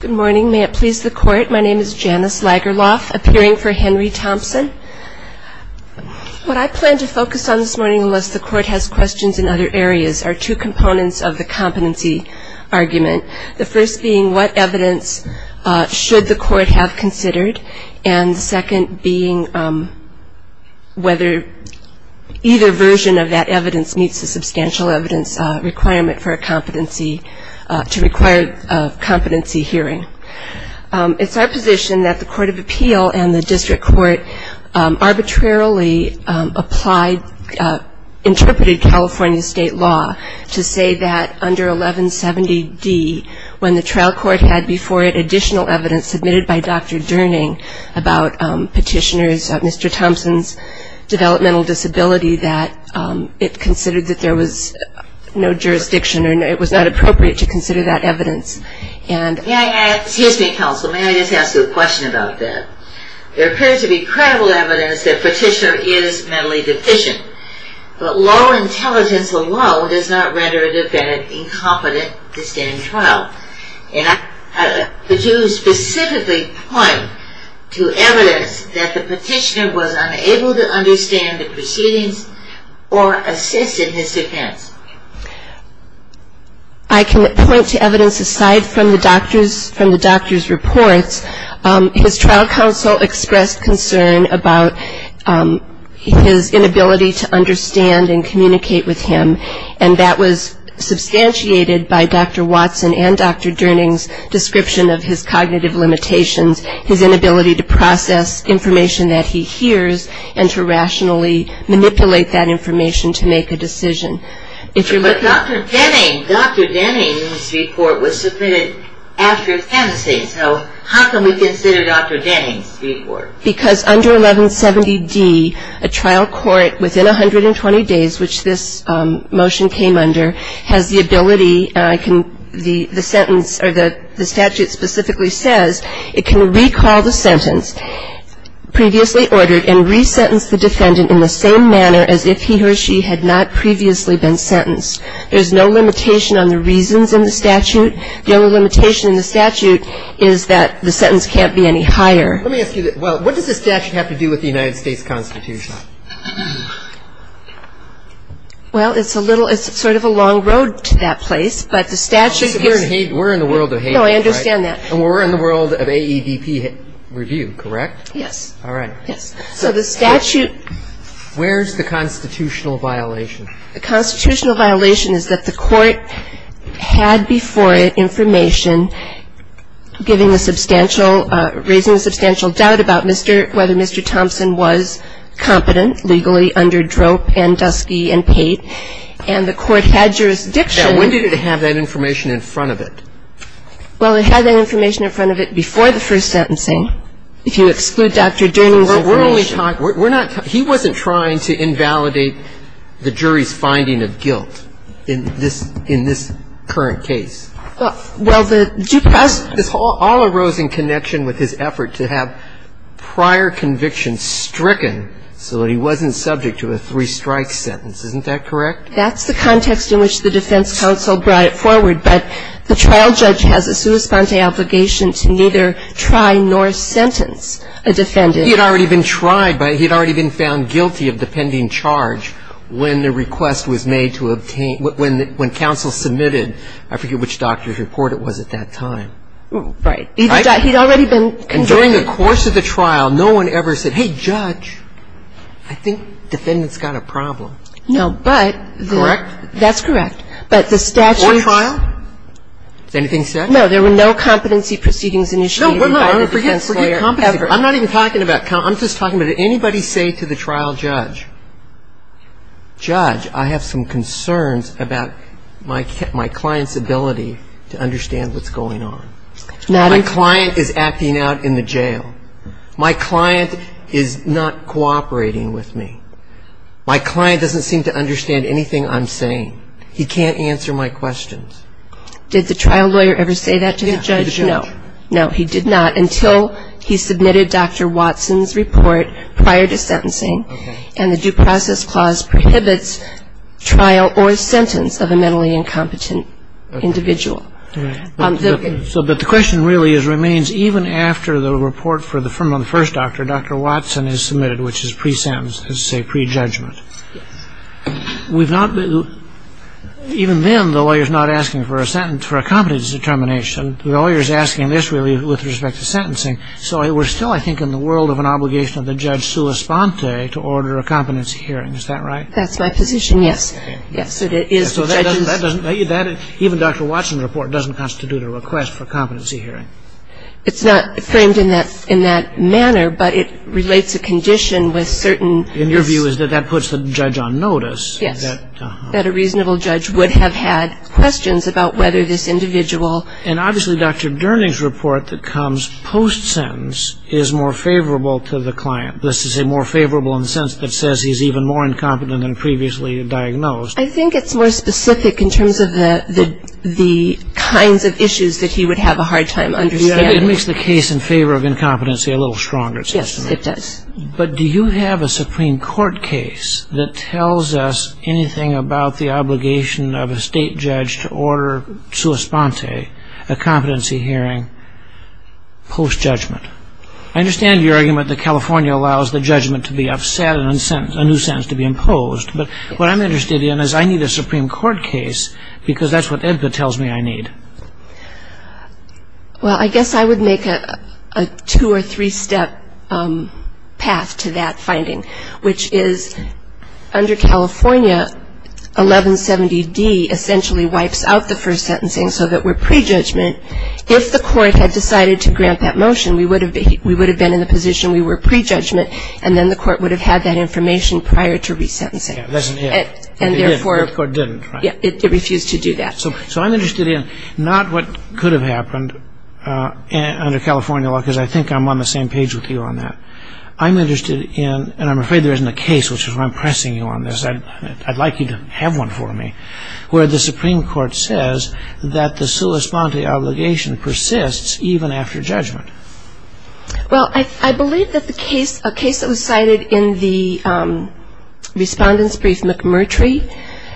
Good morning. May it please the Court, my name is Janice Lagerlof, appearing for Henry Thompson. What I plan to focus on this morning, unless the Court has questions in other areas, are two components of the competency argument. The first being what evidence should the Court have considered, and the second being whether either version of that evidence meets the substantial evidence requirement for a competency, to require a competency hearing. It's our position that the Court of Appeal and the District Court arbitrarily applied, interpreted California state law to say that under 1170D, when the trial court had before it additional evidence submitted by Dr. Durning about Petitioner's, Mr. Thompson's developmental disability, that it considered that there was no jurisdiction, and it was not appropriate to consider that evidence. Excuse me, counsel, may I just ask you a question about that? There appears to be credible evidence that Petitioner is mentally deficient, but low intelligence alone does not render a defendant incompetent to stand trial. Could you specifically point to evidence that the Petitioner was unable to understand the proceedings or assist in his defense? I can point to evidence aside from the doctor's reports. His trial counsel expressed concern about his inability to understand and communicate with him, and that was substantiated by Dr. Watson and Dr. Durning's description of his cognitive limitations, his inability to process information that he hears, and to rationally manipulate that information to make a decision. But Dr. Denning, Dr. Denning's report was submitted after his canvassing, so how can we consider Dr. Denning's report? Because under 1170D, a trial court within 120 days, which this motion came under, has the ability, the sentence, or the statute specifically says, it can recall the sentence, previously ordered, and resentence the defendant in the same manner as if he or she had not previously been sentenced. There's no limitation on the reasons in the statute. The only limitation in the statute is that the sentence can't be any higher. Let me ask you, what does the statute have to do with the United States Constitution? Well, it's a little, it's sort of a long road to that place, but the statute gives We're in the world of hate, right? No, I understand that. And we're in the world of AEDP review, correct? Yes. All right. Yes. So the statute Where's the constitutional violation? The constitutional violation is that the court had before it information giving a substantial, raising a substantial doubt about whether Mr. Thompson was competent legally under drope and dusky and paid. And the court had jurisdiction Now, when did it have that information in front of it? Well, it had that information in front of it before the first sentencing. If you exclude Dr. Durning's information Well, we're only talking, we're not, he wasn't trying to invalidate the jury's finding of guilt in this current case. Well, the All arose in connection with his effort to have prior convictions stricken so that he wasn't subject to a three-strike sentence. Isn't that correct? That's the context in which the defense counsel brought it forward. But the trial judge has a sua sponte obligation to neither try nor sentence a defendant. He had already been tried, but he had already been found guilty of the pending charge when the request was made to obtain, when counsel submitted, I forget which doctor's report it was at that time. Right. He'd already been convicted. And during the course of the trial, no one ever said, hey, judge, I think defendant's got a problem. No, but the Correct? That's correct. But the statute Before trial? Is anything said? No, there were no competency proceedings initiated by the defense lawyer ever. I'm not even talking about, I'm just talking about did anybody say to the trial judge, judge, I have some concerns about my client's ability to understand what's going on. My client is acting out in the jail. My client is not cooperating with me. My client doesn't seem to understand anything I'm saying. He can't answer my questions. Did the trial lawyer ever say that to the judge? No. No, he did not until he submitted Dr. Watson's report prior to sentencing and the due process clause prohibits trial or sentence of a mentally incompetent individual. Right. So, but the question really remains, even after the report from the first doctor, Dr. Watson is submitted, which is pre-sentence, let's say pre-judgment. Yes. We've not, even then the lawyer's not asking for a sentence for a competence determination. The lawyer's asking this really with respect to sentencing. So we're still, I think, in the world of an obligation of the judge sua sponte to order a competency hearing. Is that right? That's my position, yes. Yes, it is. So that doesn't, even Dr. Watson's report doesn't constitute a request for competency hearing. It's not framed in that manner, but it relates a condition with certain. And your view is that that puts the judge on notice. Yes. That a reasonable judge would have had questions about whether this individual. And obviously Dr. Durning's report that comes post-sentence is more favorable to the client. This is a more favorable in the sense that says he's even more incompetent than previously diagnosed. I think it's more specific in terms of the kinds of issues that he would have a hard time understanding. It makes the case in favor of incompetency a little stronger, it seems to me. Yes, it does. But do you have a Supreme Court case that tells us anything about the obligation of a state judge to order sua sponte, a competency hearing, post-judgment? I understand your argument that California allows the judgment to be upset and a new sentence to be imposed. But what I'm interested in is I need a Supreme Court case because that's what EBPA tells me I need. Well, I guess I would make a two- or three-step path to that finding, which is under California 1170D essentially wipes out the first sentencing so that we're pre-judgment. If the court had decided to grant that motion, we would have been in the position we were pre-judgment, and then the court would have had that information prior to resentencing. And therefore the court didn't. It refused to do that. So I'm interested in not what could have happened under California law, because I think I'm on the same page with you on that. I'm interested in, and I'm afraid there isn't a case, which is why I'm pressing you on this. I'd like you to have one for me, where the Supreme Court says that the sua sponte obligation persists even after judgment. Well, I believe that the case that was cited in the respondent's brief, McMurtry,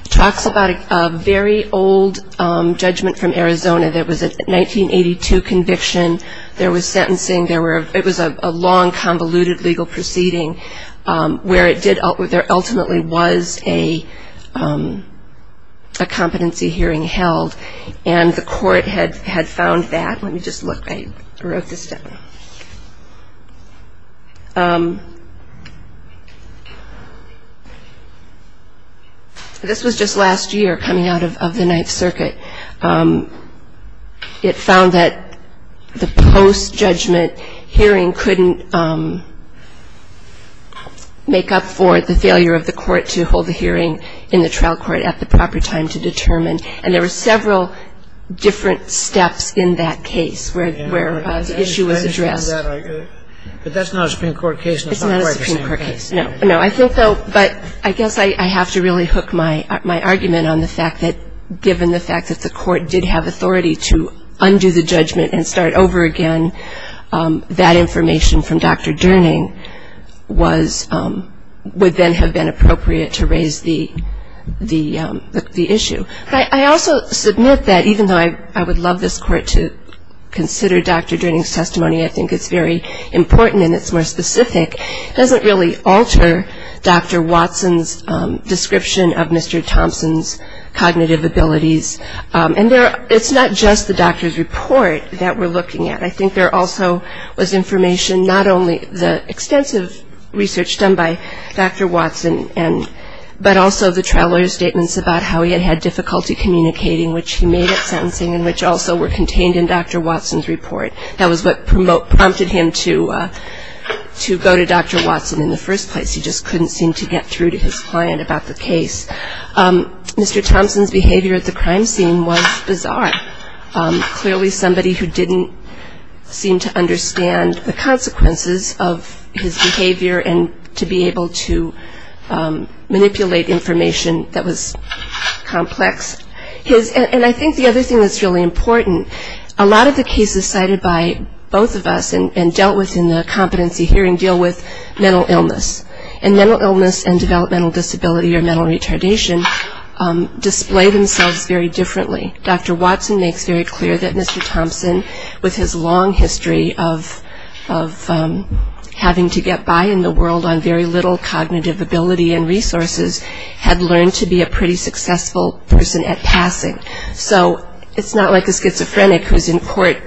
talks about a very old judgment from Arizona that was a 1982 conviction. There was sentencing. It was a long, convoluted legal proceeding where there ultimately was a competency hearing held, and the court had found that. Let me just look. I wrote this down. This was just last year, coming out of the Ninth Circuit. It found that the post-judgment hearing couldn't make up for the failure of the court to hold the hearing in the trial court at the proper time to determine. And there were several different steps in that case where the issue was addressed. But that's not a Supreme Court case. It's not a Supreme Court case. No. No. I think, though, but I guess I have to really hook my argument on the fact that, given the fact that the court did have authority to undo the judgment and start over again, that information from Dr. Durning was – would then have been appropriate to raise the issue. I also submit that, even though I would love this Court to consider Dr. Durning's testimony, I think it's very important and it's more specific, it doesn't really alter Dr. Watson's description of Mr. Thompson's cognitive abilities. And it's not just the doctor's report that we're looking at. I think there also was information, not only the extensive research done by Dr. Watson, but also the trial lawyer's statements about how he had difficulty communicating, which he made at sentencing and which also were contained in Dr. Watson's report. That was what prompted him to go to Dr. Watson in the first place. He just couldn't seem to get through to his client about the case. Mr. Thompson's behavior at the crime scene was bizarre. Clearly somebody who didn't seem to understand the consequences of his behavior and to be able to manipulate information that was complex. And I think the other thing that's really important, a lot of the cases cited by both of us and dealt with in the competency hearing deal with mental illness. And mental illness and developmental disability or mental retardation display themselves very differently. Dr. Watson makes very clear that Mr. Thompson, with his long history of having to get by in the world on very little cognitive ability and resources, had learned to be a pretty successful person at passing. So it's not like a schizophrenic who's in court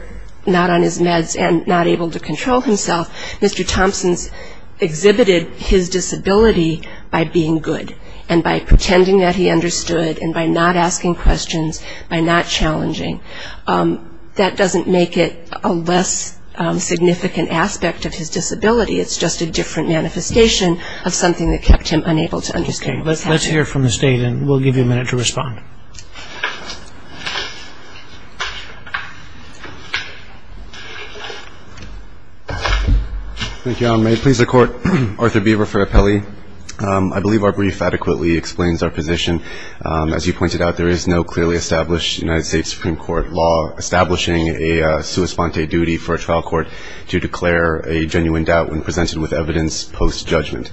not on his meds and not able to control himself. Mr. Thompson's exhibited his disability by being good and by pretending that he understood and by not asking questions, by not challenging. That doesn't make it a less significant aspect of his disability. It's just a different manifestation of something that kept him unable to understand. Let's hear from the State and we'll give you a minute to respond. Thank you, Your Honor. May it please the Court, Arthur Beaver for Appellee. I believe our brief adequately explains our position. As you pointed out, there is no clearly established United States Supreme Court law establishing a sua sponte duty for a trial court to declare a genuine doubt when presented with evidence post-judgment.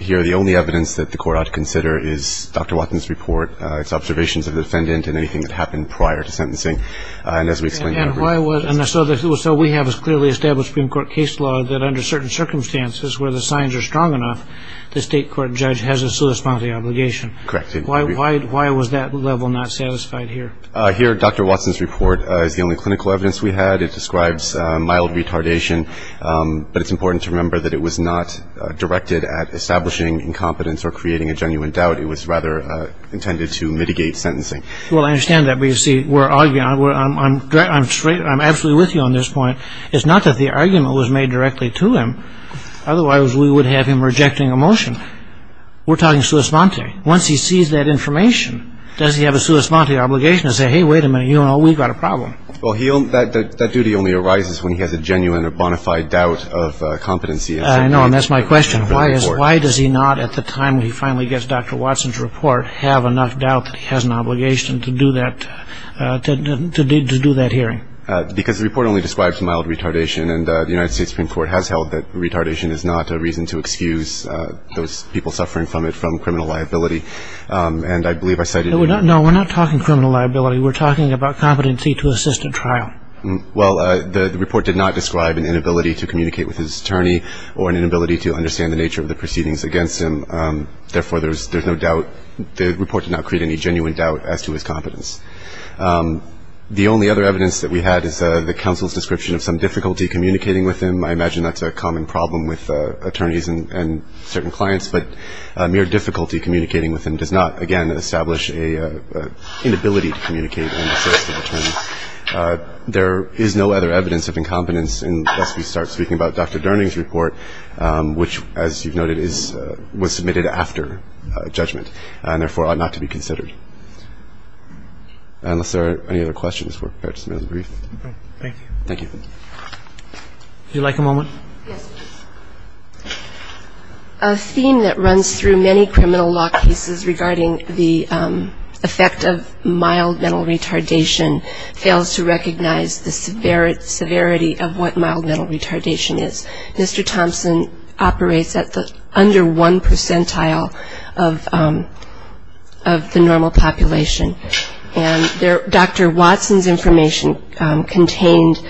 Here the only evidence that the Court ought to consider is Dr. Watson's report, its observations of the defendant and anything that happened prior to sentencing. And as we explained in our brief... And so we have a clearly established Supreme Court case law that under certain circumstances where the signs are strong enough, the state court judge has a sua sponte obligation. Correct. Why was that level not satisfied here? Here, Dr. Watson's report is the only clinical evidence we had. It describes mild retardation, but it's important to remember that it was not directed at establishing incompetence or creating a genuine doubt. It was rather intended to mitigate sentencing. Well, I understand that, but you see, we're arguing. I'm absolutely with you on this point. It's not that the argument was made directly to him. Otherwise, we would have him rejecting a motion. We're talking sua sponte. Once he sees that information, does he have a sua sponte obligation to say, hey, wait a minute, you know, we've got a problem? Well, that duty only arises when he has a genuine or bona fide doubt of competency. I know, and that's my question. Why does he not, at the time he finally gets Dr. Watson's report, have enough doubt that he has an obligation to do that hearing? Because the report only describes mild retardation, and the United States Supreme Court has held that retardation is not a reason to excuse those people who are suffering from it from criminal liability. And I believe I cited it in your report. No, we're not talking criminal liability. We're talking about competency to assist in trial. Well, the report did not describe an inability to communicate with his attorney or an inability to understand the nature of the proceedings against him. Therefore, there's no doubt. The report did not create any genuine doubt as to his competence. The only other evidence that we had is the counsel's description of some difficulty communicating with him. I imagine that's a common problem with attorneys and certain clients. But mere difficulty communicating with him does not, again, establish an inability to communicate and assist with attorneys. There is no other evidence of incompetence unless we start speaking about Dr. Durning's report, which, as you've noted, was submitted after judgment and, therefore, ought not to be considered. Unless there are any other questions, we're prepared to submit a brief. Thank you. Thank you. Would you like a moment? Yes, please. A theme that runs through many criminal law cases regarding the effect of mild mental retardation fails to recognize the severity of what mild mental retardation is. Mr. Thompson operates at the under 1 percentile of the normal population. And Dr. Watson's information contained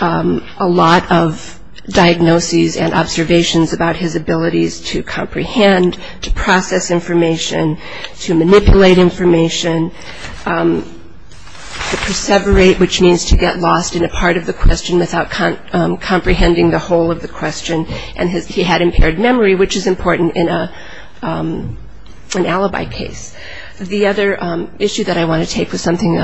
a lot of diagnoses and observations about his abilities to comprehend, to process information, to manipulate information, to perseverate, which means to get lost in a part of the question without comprehending the whole of the question. And he had impaired memory, which is important in an alibi case. The other issue that I want to take was something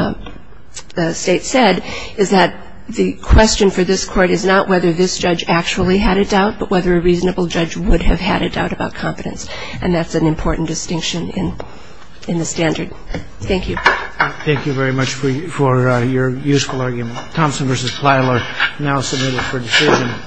the State said, is that the question for this Court is not whether this judge actually had a doubt, but whether a reasonable judge would have had a doubt about competence. And that's an important distinction in the standard. Thank you. Thank you very much for your useful argument. Thompson v. Plyler, now submitted for decision.